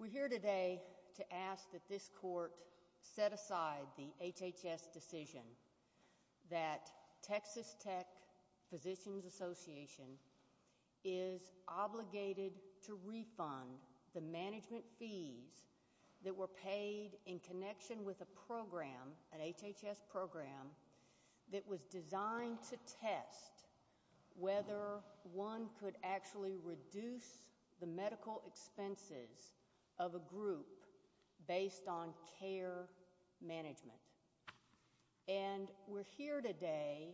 We're here today to ask that this court set aside the HHS decision that Texas Tech Physicians Association is obligated to refund the management fees that were paid in connection with a program, an HHS program, that was designed to test whether one could actually reduce the medical expenses of a group based on care management. And we're here today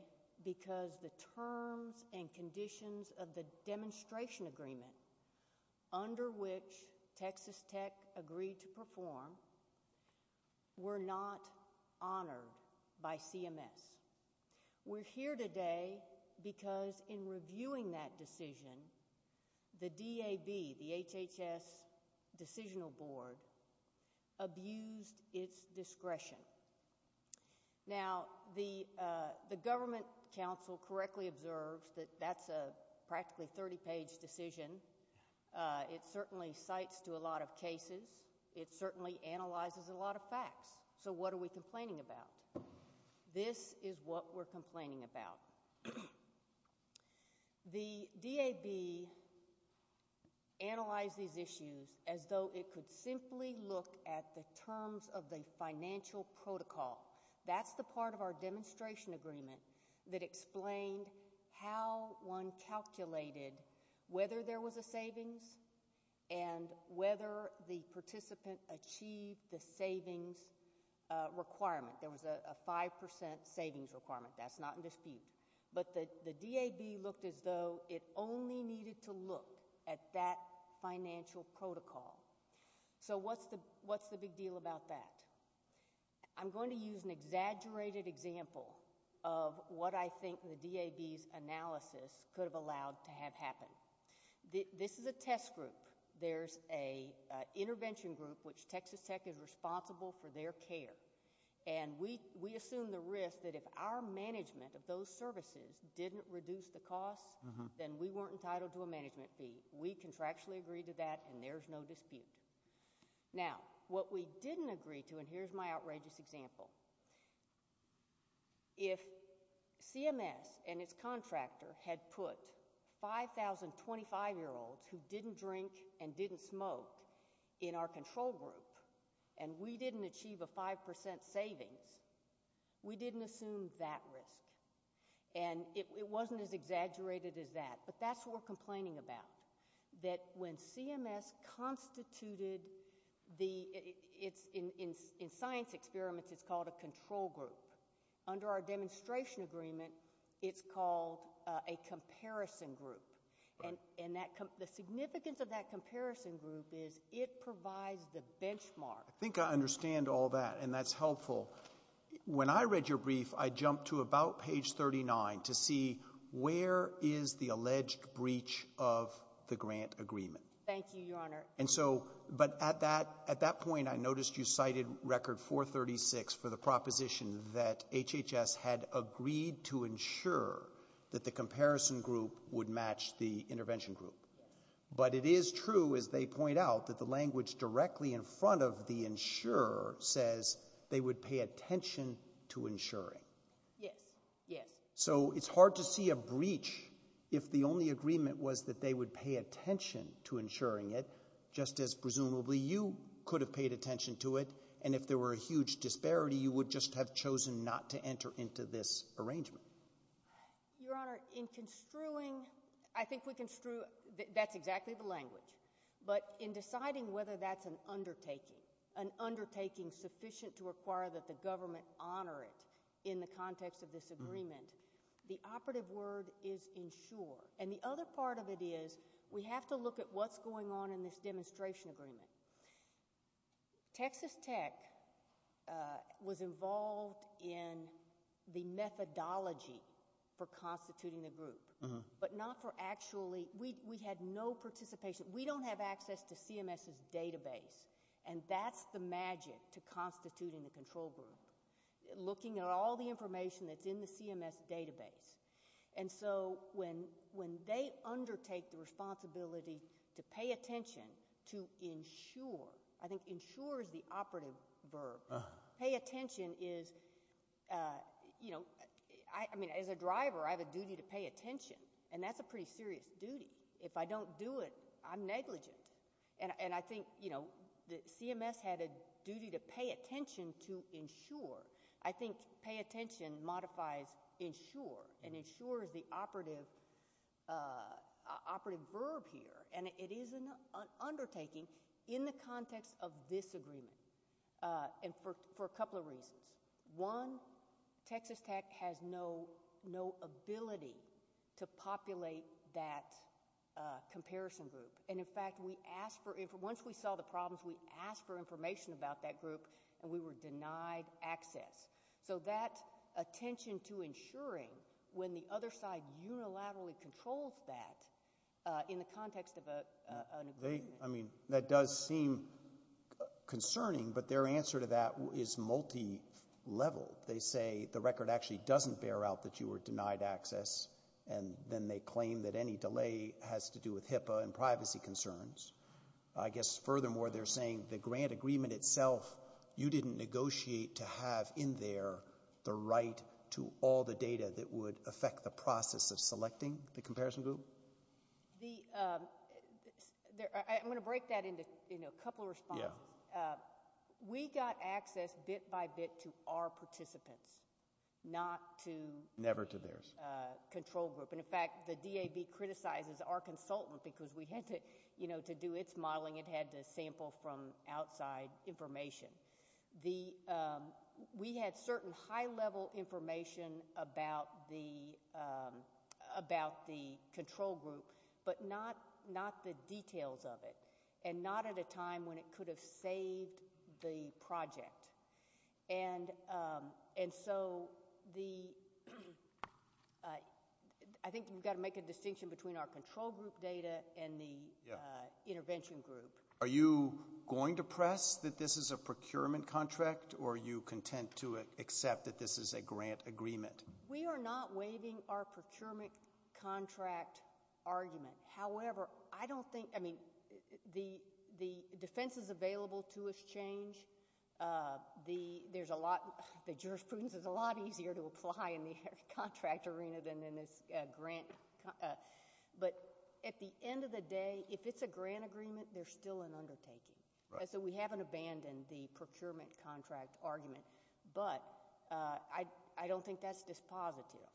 because the terms and conditions of the demonstration agreement under which Texas Tech agreed to perform were not honored by CMS. We're here today because in reviewing that decision, the DAB, the HHS Decisional Board, abused its discretion. Now, the government council correctly observes that that's a practically 30-page decision. It certainly cites to a lot of cases. It certainly analyzes a lot of facts. So what are we complaining about? This is what we're complaining about. The DAB analyzed these issues as though it could simply look at the whether there was a savings and whether the participant achieved the savings requirement. There was a 5% savings requirement. That's not in dispute. But the DAB looked as though it only needed to look at that financial protocol. So what's the big deal about that? I'm going to use an exaggerated example of what I think the DAB's analysis could have allowed to have happened. This is a test group. There's an intervention group, which Texas Tech is responsible for their care. And we assume the risk that if our management of those services didn't reduce the costs, then we weren't entitled to a management fee. We contractually agreed to that, and there's no dispute. Now, what we didn't agree to, and here's my outrageous example. If CMS and its contractor had put 5,000 25-year-olds who didn't drink and didn't smoke in our control group, and we didn't achieve a 5% savings, we didn't assume that risk. And it wasn't as In science experiments, it's called a control group. Under our demonstration agreement, it's called a comparison group. And the significance of that comparison group is it provides the benchmark. I think I understand all that, and that's helpful. When I read your brief, I jumped to about page 39 to see where is the alleged breach of the grant agreement. Thank you, Your Honor. But at that point, I noticed you cited record 436 for the proposition that HHS had agreed to ensure that the comparison group would match the intervention group. But it is true, as they point out, that the language directly in front of the insurer says they would pay attention to insuring. Yes, yes. So it's hard to see a breach if the only agreement was that they would pay attention to insuring it, just as presumably you could have paid attention to it, and if there were a huge disparity, you would just have chosen not to enter into this arrangement. Your Honor, in construing, I think we construed, that's exactly the language. But in deciding whether that's an undertaking, sufficient to require that the government honor it in the context of this agreement, the operative word is ensure. And the other part of it is we have to look at what's going on in this demonstration agreement. Texas Tech was involved in the methodology for constituting the group, but not for actually, we had no participation. We don't have access to CMS's database, and that's the magic to constituting the control group, looking at all the information that's in the CMS database. And so when they undertake the responsibility to pay attention to ensure, I think ensure is the operative verb. Pay attention is, you know, I mean, as a driver, I have a duty to pay attention, and that's a pretty serious duty. If I don't do it, I'm negligent. And I think, you know, CMS had a duty to pay attention to ensure. I think pay attention modifies ensure, and ensure is the operative verb here, and it is an undertaking in the context of this comparison group. And in fact, once we saw the problems, we asked for information about that group, and we were denied access. So that attention to ensuring, when the other side unilaterally controls that in the context of an agreement. I mean, that does seem concerning, but their answer to that is multilevel. They say the record actually doesn't bear out that you were denied access, and then they claim that any delay has to do with HIPAA and privacy concerns. I guess, furthermore, they're saying the grant agreement itself, you didn't negotiate to have in there the right to all the data that would affect the process of selecting the comparison group? I'm going to break that into a couple of responses. We got access bit by bit to our participants, not to the control group. And in fact, the DAB criticizes our consultant because we had to do its modeling, it had to sample from outside information. We had certain high-level information about the control group, but not the details of it. And not at a time when it could have saved the project. And so, I think we've got to make a distinction between our control group data and the intervention group. Are you going to press that this is a procurement contract, or are you content to accept that this is a grant agreement? We are not waiving our procurement contract argument. However, I don't think, I mean, the defenses available to us change. There's a lot, the jurisprudence is a lot easier to apply in the contract arena than in this grant. But at the end of the day, if it's a grant agreement, there's still an undertaking. So we haven't abandoned the procurement contract argument, but I don't think that's dispositive.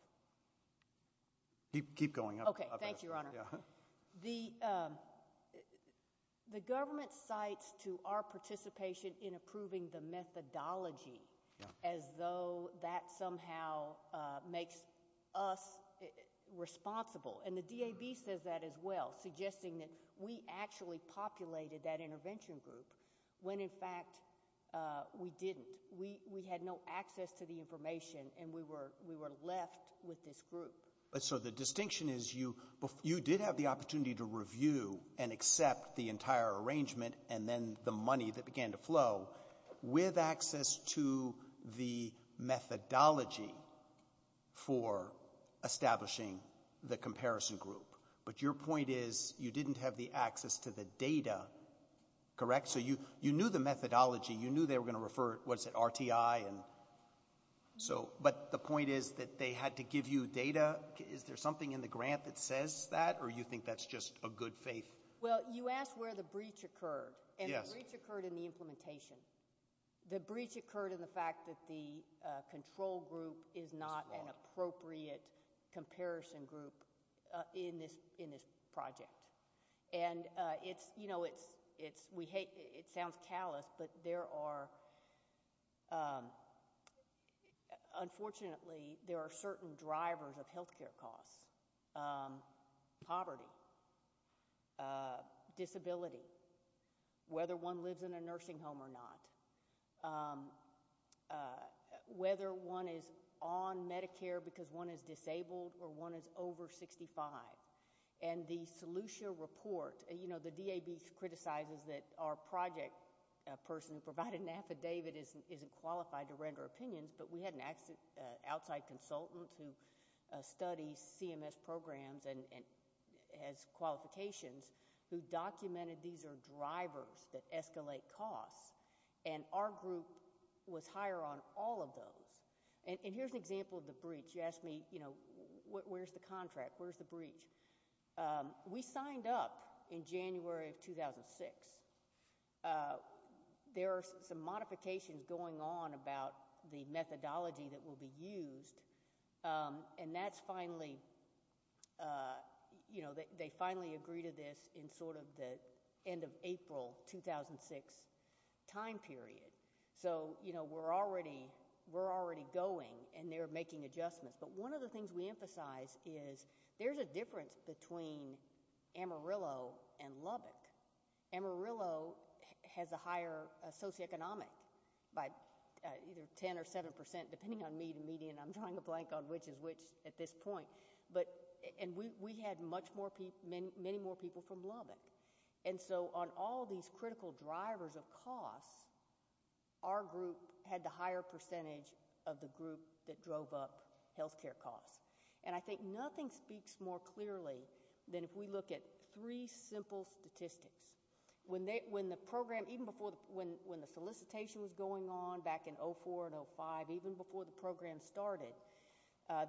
Keep going. The government cites to our participation in approving the methodology as though that somehow makes us responsible. And the DAB says that as well, suggesting that we actually populated that intervention group when in fact we didn't. We had no access to the information, and we were left with this group. So the distinction is you did have the opportunity to review and accept the entire arrangement and then the money that began to flow with access to the methodology for establishing the comparison group. But your point is you didn't have the access to the data, correct? So you knew the methodology. You knew they were going to refer, what is it, RTI? But the point is that they had to give you data. Is there something in the grant that says that, or do you think that's just a good faith? Well, you asked where the breach occurred, and the breach occurred in the implementation. The breach occurred in the fact that the control group is not an appropriate comparison group in this project. And it sounds callous, but unfortunately there are certain drivers of health care costs, poverty, disability, whether one lives in a nursing home or not, whether one is on Medicare because one is disabled or one is over 65. And the Solutio report, you know, the DAB criticizes that our project person who provided an affidavit isn't qualified to render opinions, but we had an outside consultant who studies CMS programs and has qualifications who documented these are drivers that escalate costs, and our group was higher on all of those. And here's an example of the breach. You asked me, you know, where's the contract? Where's the breach? We signed up in January of 2006. There are some modifications going on about the methodology that will be used, and that's finally, you know, they finally agree to this in sort of the end of April 2006 time period. So, you know, we're already going and they're making adjustments. But one of the things we emphasize is there's a difference between Amarillo and Lubbock. Amarillo has a higher socioeconomic by either 10 or 7 percent depending on median. I'm drawing a blank on which is which at this point. And we had many more people from Lubbock. And so on all of these critical drivers of costs, our group had the higher percentage of the group that drove up health care costs. And I think nothing speaks more clearly than if we look at three simple statistics. When the program, even before the solicitation was going on back in 2004 and 2005, even before the program started,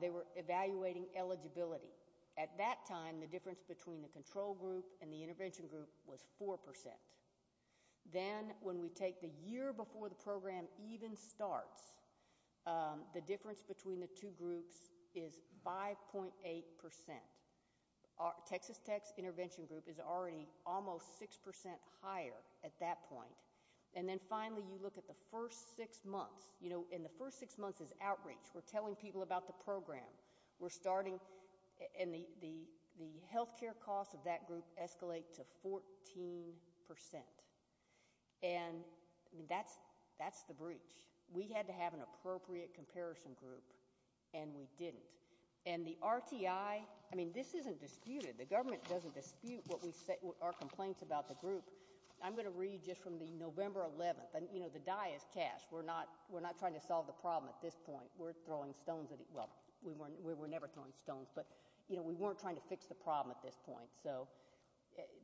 they were evaluating eligibility. At that time, the difference between the control group and the intervention group was 4 percent. Then when we take the year before the program even starts, the difference between the two groups is 5.8 percent. Texas Tech's intervention group is already almost 6 percent higher at that point. And then finally you look at the first six months. You know, in the first six months is outreach. We're telling people about the program. We're starting, and the health care costs of that group escalate to 14 percent. And that's the breach. We had to have an appropriate comparison group, and we didn't. And the RTI, I mean, this isn't disputed. The government doesn't dispute our complaints about the group. I'm going to read just from the November 11th. You know, the die is cast. We're not trying to solve the problem at this point. We're throwing stones at it. Well, we were never throwing stones. But, you know, we weren't trying to fix the problem at this point. So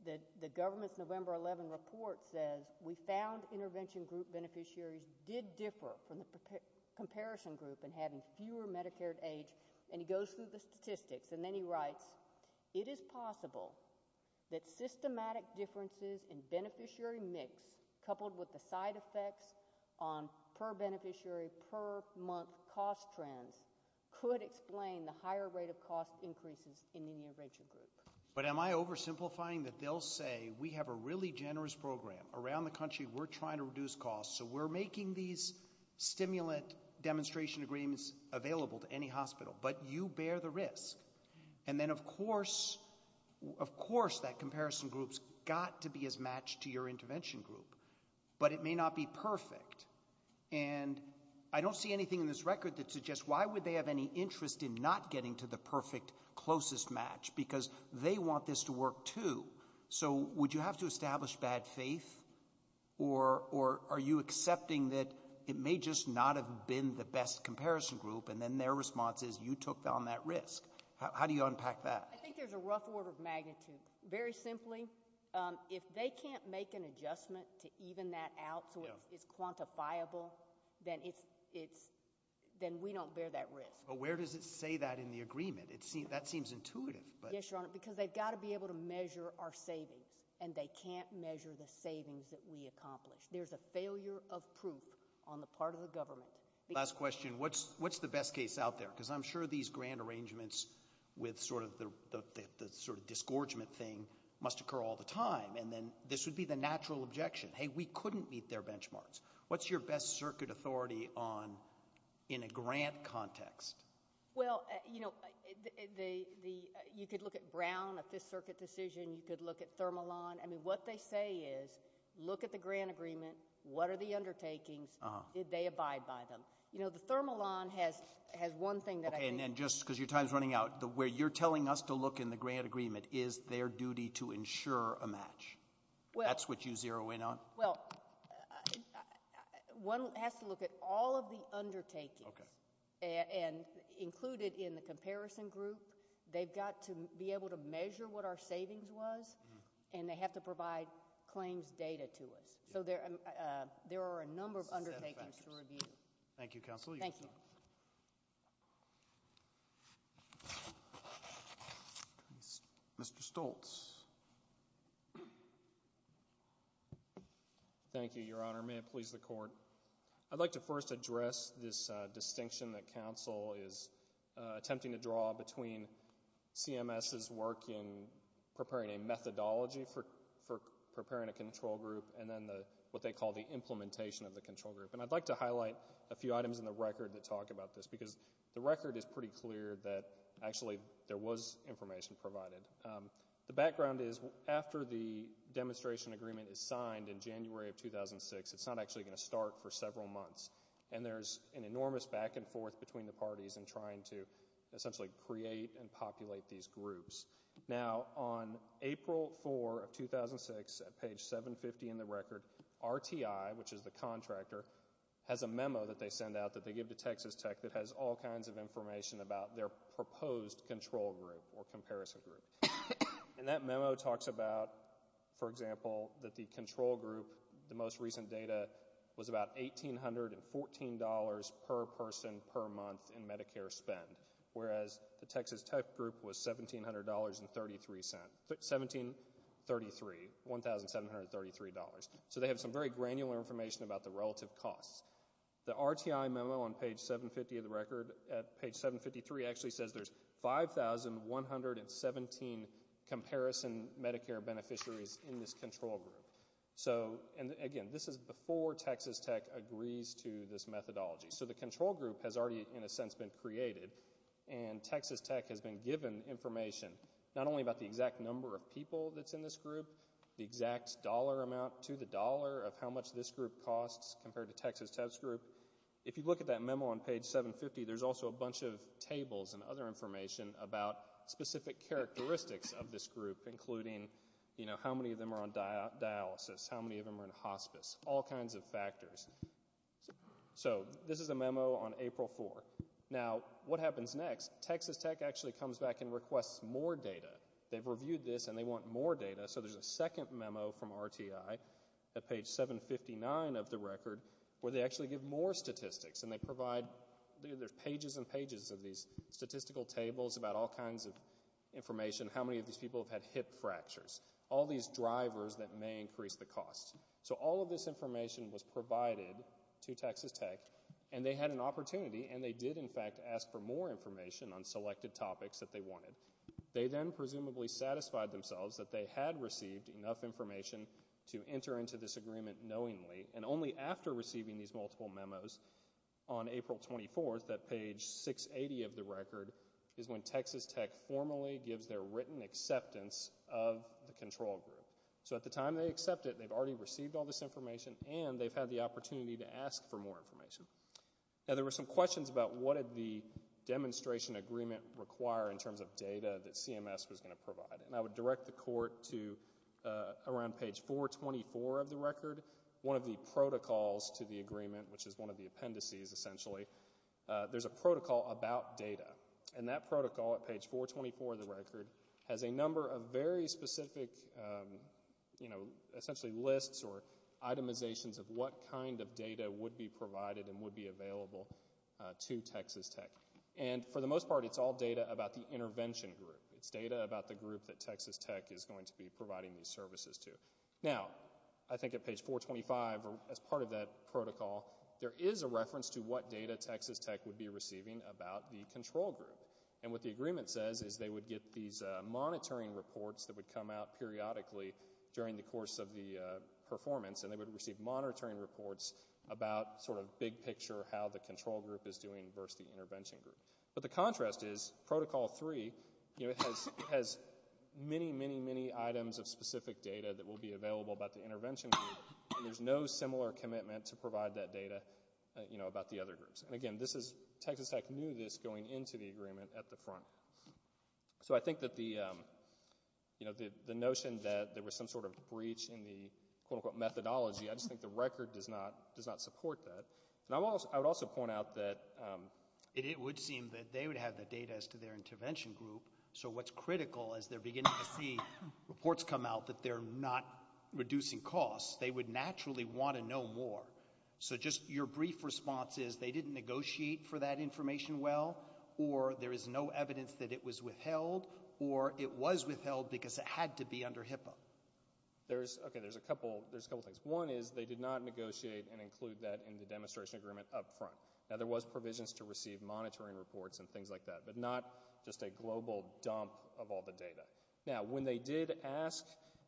the government's November 11th report says, we found intervention group beneficiaries did differ from the comparison group in having fewer Medicare-to-AIDS. And he goes through the statistics, and then he writes, it is possible that systematic differences in beneficiary mix, coupled with the side effects on per-beneficiary, per-month cost trends, could explain the higher rate of cost increases in the intervention group. But am I oversimplifying that they'll say, we have a really generous program around the country, we're trying to reduce costs, so we're making these stimulant demonstration agreements available to any hospital, but you bear the risk. And then, of course, that comparison group's got to be as matched to your intervention group. But it may not be perfect. And I don't see anything in this record that suggests, why would they have any interest in not getting to the perfect, closest match? Because they want this to work, too. So would you have to establish bad faith? Or are you accepting that it may just not have been the best comparison group, and then their response is, you took on that risk? How do you unpack that? I think there's a rough order of magnitude. Very simply, if they can't make an adjustment to even that out so it's quantifiable, then we don't bear that risk. But where does it say that in the agreement? That seems intuitive. Yes, Your Honor, because they've got to be able to measure our savings, and they can't measure the savings that we accomplish. There's a failure of proof on the part of the government. Last question. What's the best case out there? Because I'm sure these grant arrangements with sort of the disgorgement thing must occur all the time, and then this would be the natural objection. Hey, we couldn't meet their benchmarks. What's your best circuit authority on in a grant context? Well, you know, you could look at Brown, a fifth circuit decision. You could look at Thermalon. I mean, what they say is, look at the grant agreement. What are the undertakings? Did they abide by them? You know, the Thermalon has one thing that I think. Okay, and then just because your time is running out, where you're telling us to look in the grant agreement is their duty to ensure a match. That's what you zero in on? Well, one has to look at all of the undertakings. And included in the comparison group, they've got to be able to measure what our savings was, and they have to provide claims data to us. So there are a number of undertakings to review. Thank you, Counsel. Thank you. Mr. Stoltz. Thank you, Your Honor. May it please the Court. I'd like to first address this distinction that Counsel is attempting to draw between CMS's work in preparing a methodology for preparing a control group and then what they call the implementation of the control group. And I'd like to highlight a few items in the record that talk about this, because the record is pretty clear that actually there was information provided. The background is after the demonstration agreement is signed in January of 2006, it's not actually going to start for several months, and there's an enormous back and forth between the parties in trying to essentially create and populate these groups. Now, on April 4, 2006, at page 750 in the record, RTI, which is the contractor, has a memo that they send out that they give to Texas Tech that has all kinds of information about their proposed control group or comparison group. And that memo talks about, for example, that the control group, the most recent data was about $1,814 per person per month in Medicare spend, whereas the Texas Tech group was $1,733. So they have some very granular information about the relative costs. The RTI memo on page 750 of the record, at page 753, actually says there's 5,117 comparison Medicare beneficiaries in this control group. And, again, this is before Texas Tech agrees to this methodology. So the control group has already, in a sense, been created, and Texas Tech has been given information, not only about the exact number of people that's in this group, the exact dollar amount to the dollar of how much this group costs compared to Texas Tech's group. If you look at that memo on page 750, there's also a bunch of tables and other information about specific characteristics of this group, including, you know, how many of them are on dialysis, how many of them are in hospice, all kinds of factors. So this is a memo on April 4. Now, what happens next? Texas Tech actually comes back and requests more data. They've reviewed this, and they want more data. So there's a second memo from RTI at page 759 of the record where they actually give more statistics. And they provide pages and pages of these statistical tables about all kinds of information, how many of these people have had hip fractures, all these drivers that may increase the cost. So all of this information was provided to Texas Tech, and they had an opportunity, and they did in fact ask for more information on selected topics that they wanted. They then presumably satisfied themselves that they had received enough information to enter into this agreement knowingly. And only after receiving these multiple memos on April 24 that page 680 of the record is when Texas Tech formally gives their written acceptance of the control group. So at the time they accept it, they've already received all this information, and they've had the opportunity to ask for more information. Now, there were some questions about what did the demonstration agreement require in terms of data that CMS was going to provide. And I would direct the court to around page 424 of the record, one of the protocols to the agreement, which is one of the appendices, essentially. There's a protocol about data. And that protocol at page 424 of the record has a number of very specific, you know, essentially lists or itemizations of what kind of data would be provided and would be available to Texas Tech. And for the most part, it's all data about the intervention group. It's data about the group that Texas Tech is going to be providing these services to. Now, I think at page 425, as part of that protocol, there is a reference to what data Texas Tech would be receiving about the control group. And what the agreement says is they would get these monitoring reports that would come out periodically during the course of the performance, and they would receive monitoring reports about sort of big picture how the control group is doing versus the intervention group. But the contrast is Protocol 3, you know, has many, many, many items of specific data that will be available about the intervention group, and there's no similar commitment to provide that data, you know, about the other groups. And again, this is... Texas Tech knew this going into the agreement at the front. So I think that the, you know, the notion that there was some sort of breach in the quote-unquote methodology, I just think the record does not support that. And I would also point out that... It would seem that they would have the data as to their intervention group, so what's critical as they're beginning to see reports come out that they're not reducing costs, they would naturally want to know more. So just your brief response is they didn't negotiate for that information well, or there is no evidence that it was withheld, or it was withheld because it had to be under HIPAA. There's... Okay, there's a couple... There's a couple things. One is they did not negotiate and include that in the demonstration agreement up front. Now, there was provisions to receive monitoring reports and things like that, but not just a global dump of all the data. Now, when they did ask,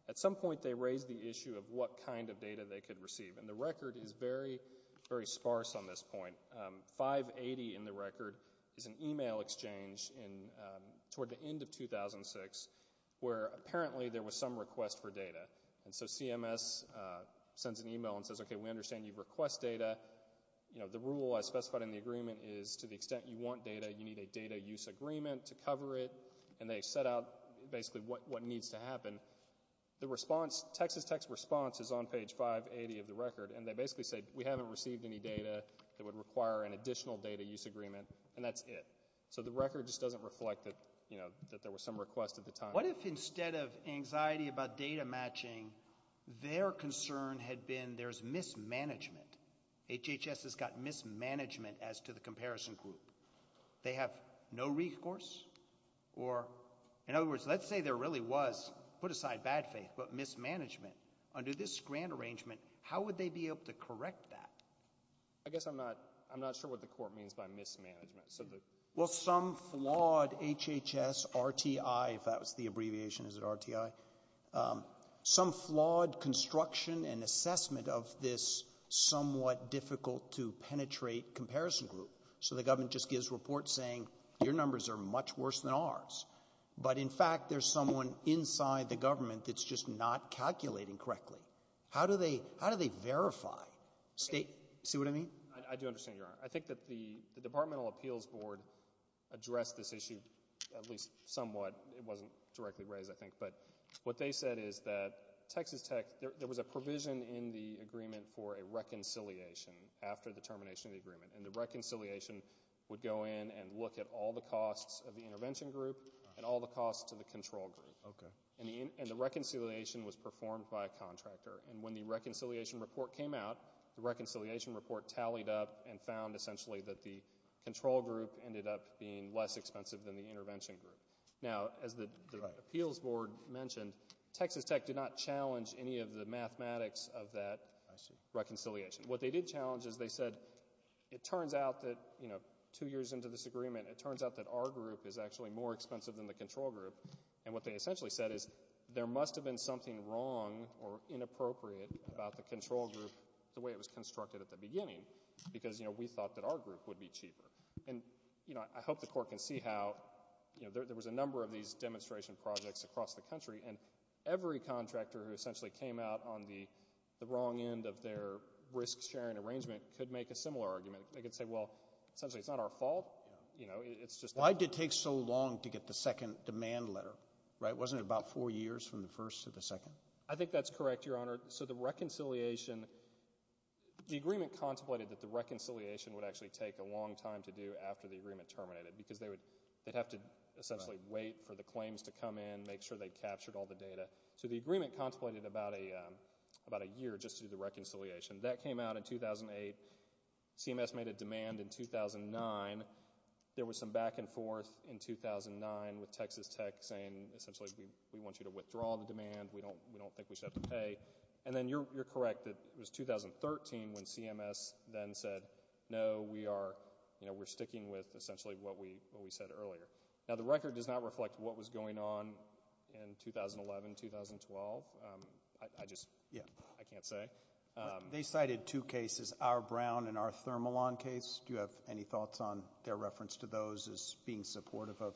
at some point they raised the issue of what kind of data they could receive, and the record is very, very sparse on this point. 580 in the record is an e-mail exchange toward the end of 2006 where apparently there was some request for data, and so CMS sends an e-mail and says, okay, we understand you request data. You know, the rule I specified in the agreement is to the extent you want data, you need a data use agreement to cover it, and they set out basically what needs to happen. The response, Texas Tech's response is on page 580 of the record, and they basically say we haven't received any data that would require an additional data use agreement, and that's it. So the record just doesn't reflect that, you know, that there was some request at the time. What if instead of anxiety about data matching, their concern had been there's mismanagement? HHS has got mismanagement as to the comparison group. They have no recourse? Or, in other words, let's say there really was, put aside bad faith, but mismanagement. Under this grant arrangement, how would they be able to correct that? I guess I'm not sure what the court means by mismanagement. Well, some flawed HHS RTI, if that was the abbreviation, is it RTI? Some flawed construction and assessment of this somewhat difficult to penetrate comparison group. So the government just gives reports saying your numbers are much worse than ours, but in fact there's someone inside the government that's just not calculating correctly. How do they verify? See what I mean? I do understand, Your Honor. I think that the Departmental Appeals Board addressed this issue at least somewhat. It wasn't directly raised, I think. But what they said is that Texas Tech, there was a provision in the agreement for a reconciliation after the termination of the agreement, and the reconciliation would go in and look at all the costs of the intervention group and all the costs to the control group. And the reconciliation was performed by a contractor. And when the reconciliation report came out, the reconciliation report tallied up and found essentially that the control group ended up being less expensive than the intervention group. Now, as the Appeals Board mentioned, Texas Tech did not challenge any of the mathematics of that reconciliation. What they did challenge is they said, it turns out that, you know, two years into this agreement, it turns out that our group is actually more expensive than the control group. And what they essentially said is that there must have been something wrong or inappropriate about the control group the way it was constructed at the beginning, because, you know, we thought that our group would be cheaper. And, you know, I hope the Court can see how, you know, there was a number of these demonstration projects across the country, and every contractor who essentially came out on the wrong end of their risk-sharing arrangement could make a similar argument. They could say, well, essentially, it's not our fault, you know, it's just... Why did it take so long to get the second demand letter, right? Wasn't it about four years from the first to the second? I think that's correct, Your Honor. So the reconciliation... The agreement contemplated that the reconciliation would actually take a long time to do after the agreement terminated, because they'd have to essentially wait for the claims to come in, make sure they'd captured all the data. So the agreement contemplated about a year just to do the reconciliation. That came out in 2008. CMS made a demand in 2009. There was some back and forth in 2009 with Texas Tech saying, essentially, we want you to withdraw the demand, we don't think we should have to pay. And then you're correct that it was 2013 when CMS then said, no, we are, you know, we're sticking with essentially what we said earlier. Now, the record does not reflect what was going on in 2011, 2012. I just... I can't say. They cited two cases, our Brown and our Thermalon case. Do you have any thoughts on their reference to those as being supportive of...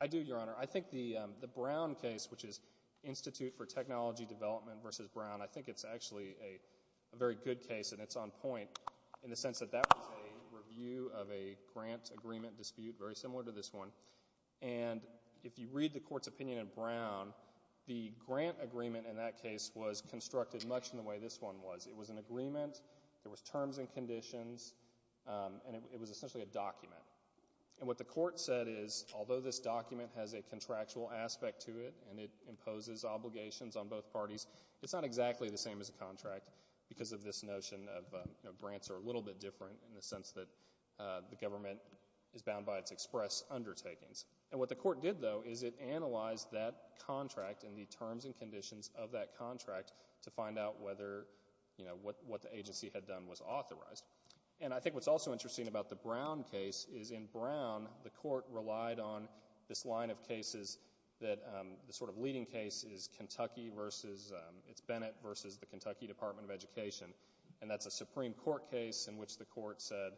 I do, Your Honor. I think the Brown case, which is Institute for Technology Development versus Brown, I think it's actually a very good case, and it's on point in the sense that that was a review of a grant agreement dispute very similar to this one. And if you read the Court's opinion in Brown, the grant agreement in that case was constructed much in the way this one was. It was an agreement, there was terms and conditions, and it was essentially a document. And what the Court said is, although this document has a contractual aspect to it, and it imposes obligations on both parties, it's not exactly the same as a contract because of this notion of, you know, grants are a little bit different in the sense that the government is bound by its express undertakings. And what the Court did, though, is it analyzed that contract and the terms and conditions of that contract to find out whether, you know, what the agency had done was authorized. And I think what's also interesting about the Brown case is in Brown, the Court relied on this line of cases that the sort of leading case is Kentucky versus, it's Bennett versus the Kentucky Department of Education. And that's a Supreme Court case in which the Court said,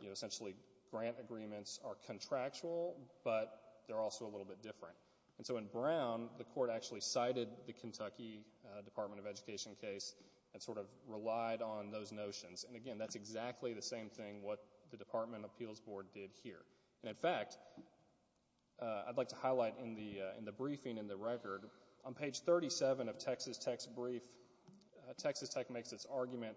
you know, essentially grant agreements are contractual, but they're also a little bit different. And so in Brown, the Court actually cited the Kentucky Department of Education case and sort of relied on those notions. And again, that's exactly the same thing what the Department of Appeals Board did here. And in fact, I'd like to highlight in the briefing in the record, on page 37 of Texas Tech's brief, Texas Tech makes its argument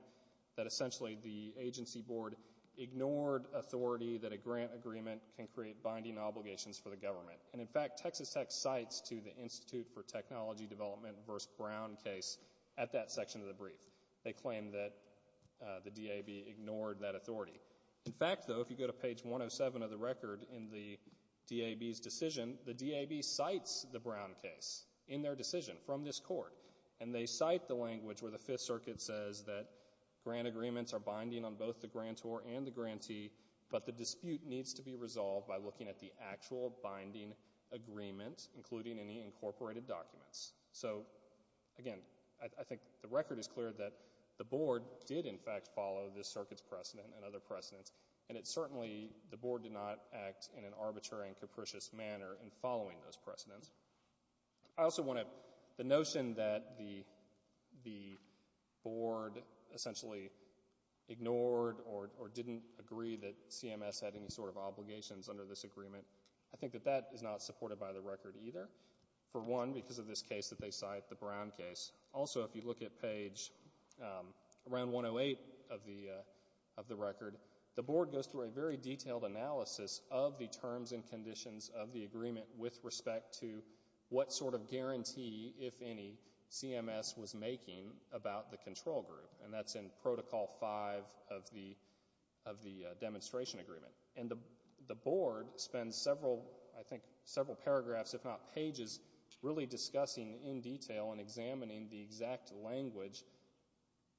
that essentially the agency board ignored authority that a grant agreement can create binding obligations for the government. And in fact, Texas Tech cites to the Institute for Technology Development versus Brown case at that section of the brief. They claim that the DAB ignored that authority. In fact, though, if you go to page 107 of the record in the DAB's decision, the DAB cites the Brown case in their decision from this Court. And they cite the language where the Fifth Circuit says that grant agreements are binding on both the grantor and the grantee, but the dispute needs to be resolved by looking at the actual binding agreement, including any obligations. So again, I think the record is clear that the Board did in fact follow this Circuit's precedent and other precedents, and it certainly, the Board did not act in an arbitrary and capricious manner in following those precedents. I also want to, the notion that the Board essentially ignored or didn't agree that CMS had any sort of obligations under this agreement, I think that that is not supported by the record either, for one, because of this case that they cite, the Brown case. Also, if you look at page around 108 of the record, the Board goes through a very detailed analysis of the terms and conditions of the agreement with respect to what sort of guarantee, if any, CMS was making about the control group, and that's in Protocol 5 of the demonstration agreement. And the Board spends several, I think, several paragraphs, if not pages, really discussing in detail and examining the exact language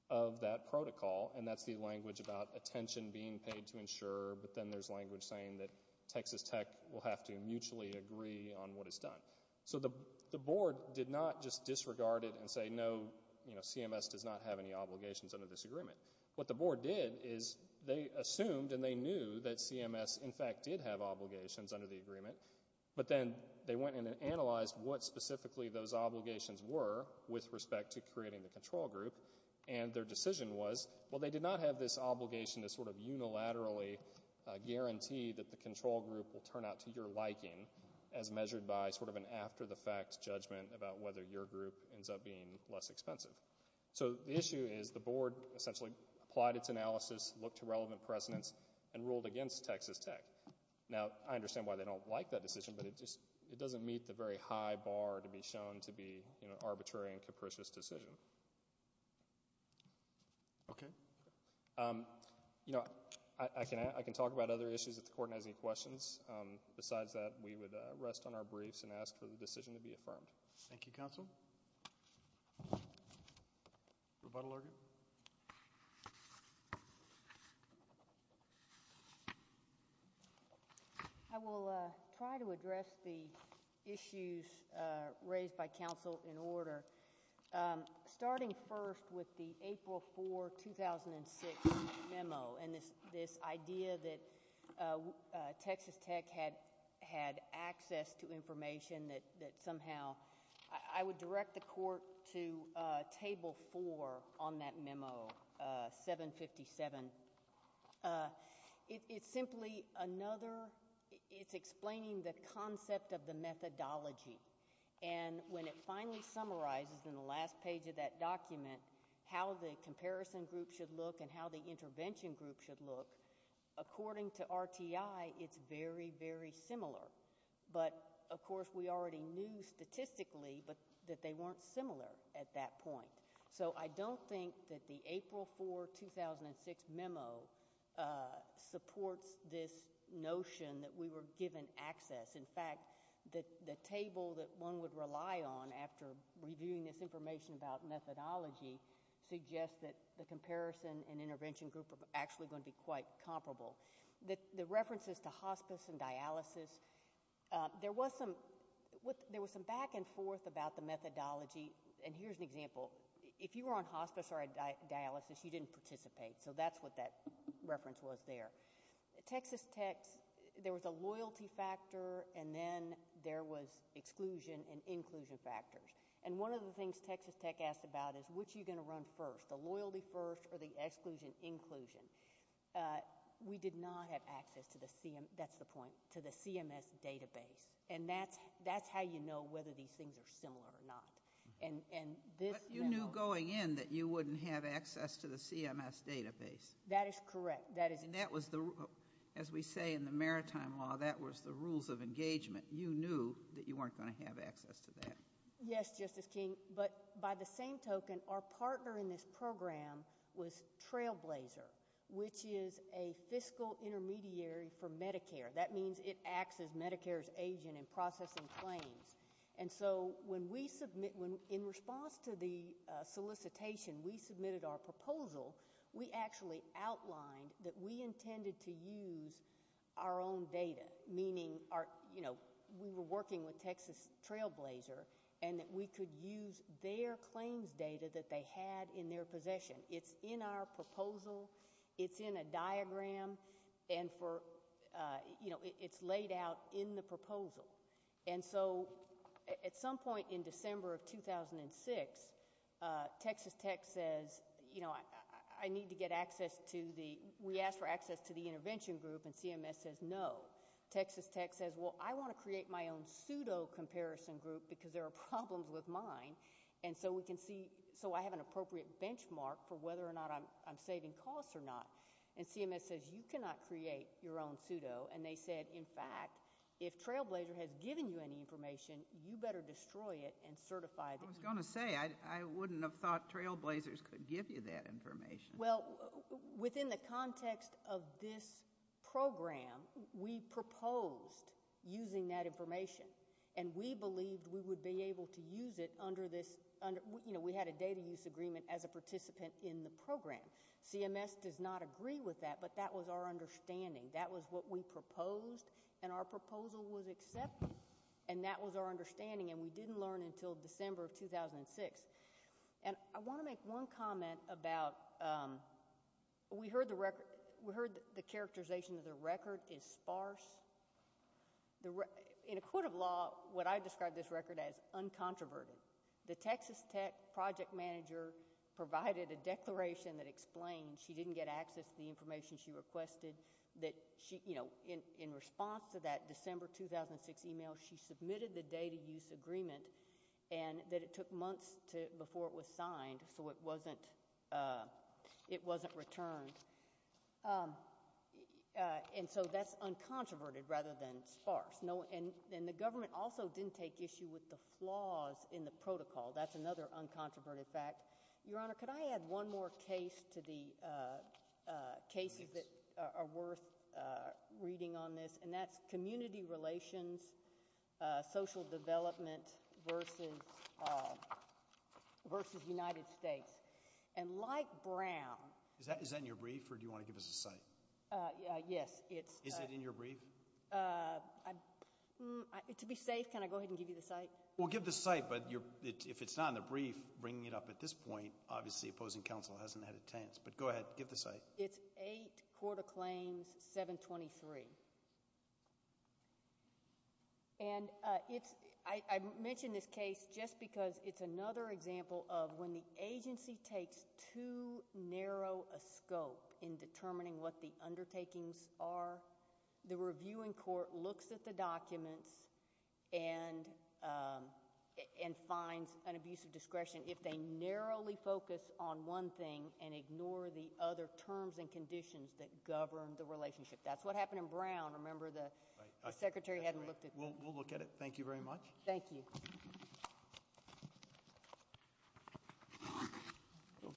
of that protocol, and that's the language about attention being paid to insurer, but then there's language saying that Texas Tech will have to mutually agree on what is done. So the Board did not just disregard it and say, no, CMS does not have any obligations under this agreement. What the Board did is they assumed, and they knew, that CMS in fact did have obligations under the agreement, but then they went in and analyzed what specifically those obligations were with respect to creating the control group, and their decision was, well, they did not have this obligation to sort of unilaterally guarantee that the control group will turn out to your liking as measured by sort of an after-the-fact judgment about whether your group ends up being less expensive. So the issue is the Board essentially applied its analysis, looked to relevant precedents, and ruled against Texas Tech. Now, I understand why they don't like that decision, but it just, it doesn't meet the very high bar to be shown to be an arbitrary and capricious decision. Okay. You know, I can talk about other issues if the Court has any questions. Besides that, we would rest on our briefs and ask for the decision to be affirmed. Thank you, Counsel. Rebuttal argument? I will try to address the issues raised by Counsel in order. Starting first with the April 4, 2006 memo, and this idea that Texas Tech had access to information that somehow, I would direct the Court to Table 4 on that memo, 757 It's simply another, it's explaining the concept of the methodology, and when it finally summarizes in the last page of that document how the comparison group should look and how the intervention group should look, according to RTI, it's very, very similar. But, of course, we already knew statistically that they weren't similar at that point. So I don't think that the memo supports this notion that we were given access. In fact, the table that one would rely on after reviewing this information about methodology suggests that the comparison and intervention group are actually going to be quite comparable. The references to hospice and dialysis, there was some back and forth about the methodology, and here's an example. If you were on hospice or dialysis, you didn't participate. So that's what that reference was there. Texas Tech, there was a loyalty factor, and then there was exclusion and inclusion factors. And one of the things Texas Tech asked about is, which are you going to run first, the loyalty first or the exclusion inclusion? We did not have access to the CMS, that's the point, to the CMS database. And that's how you know whether these things are similar or not. And this memo... This is the CMS database. That is correct. As we say in the maritime law, that was the rules of engagement. You knew that you weren't going to have access to that. Yes, Justice King, but by the same token, our partner in this program was Trailblazer, which is a fiscal intermediary for Medicare. That means it acts as Medicare's agent in processing claims. And so when we submit, in response to the proposal, we actually outlined that we intended to use our own data. Meaning, you know, we were working with Texas Trailblazer and that we could use their claims data that they had in their possession. It's in our proposal, it's in a diagram, and for you know, it's laid out in the proposal. And so at some point in December of 2006, Texas Tech says, you know, I need to get access to the, we asked for access to the intervention group, and CMS says, no. Texas Tech says, well, I want to create my own pseudo-comparison group because there are problems with mine. And so we can see, so I have an appropriate benchmark for whether or not I'm saving costs or not. And CMS says, you cannot create your own pseudo. And they said, in fact, if Trailblazer has given you any information, you better destroy it and certify it. I was going to say, I wouldn't have thought Trailblazers could give you that information. Well, within the context of this program, we proposed using that information. And we believed we would be able to use it under this, you know, we had a data use agreement as a participant in the program. CMS does not agree with that, but that was our understanding. That was what we proposed, and our proposal was accepted. And that was our understanding, and we didn't learn until December of 2006. And I want to make one comment about, um, we heard the record, we heard the characterization of the record is sparse. In a court of law, what I describe this record as uncontroverted. The Texas Tech project manager provided a declaration that explained she didn't get access to the information she requested, that she, you know, in response to that she had to sign a data use agreement, and that it took months before it was signed, so it wasn't returned. And so that's uncontroverted rather than sparse. And the government also didn't take issue with the flaws in the protocol. That's another uncontroverted fact. Your Honor, could I add one more case to the cases that are worth reading on this, and that's community relations, social development, versus United States. And like Brown... Is that in your brief, or do you want to give us a cite? Yes, it's... Is it in your brief? To be safe, can I go ahead and give you the cite? Well, give the cite, but if it's not in the brief, bringing it up at this point, obviously opposing counsel hasn't had a chance, but go ahead, give the cite. It's 8, Court of Claims, 723. And it's... I mention this case just because it's another example of when the agency takes too narrow a scope in determining what the undertakings are, the reviewing court looks at the documents and finds an abuse of discretion if they narrowly focus on one thing and ignore the other terms and conditions that govern the relationship. That's what happened in Brown. Remember the secretary hadn't looked at... We'll look at it. Thank you very much. Thank you.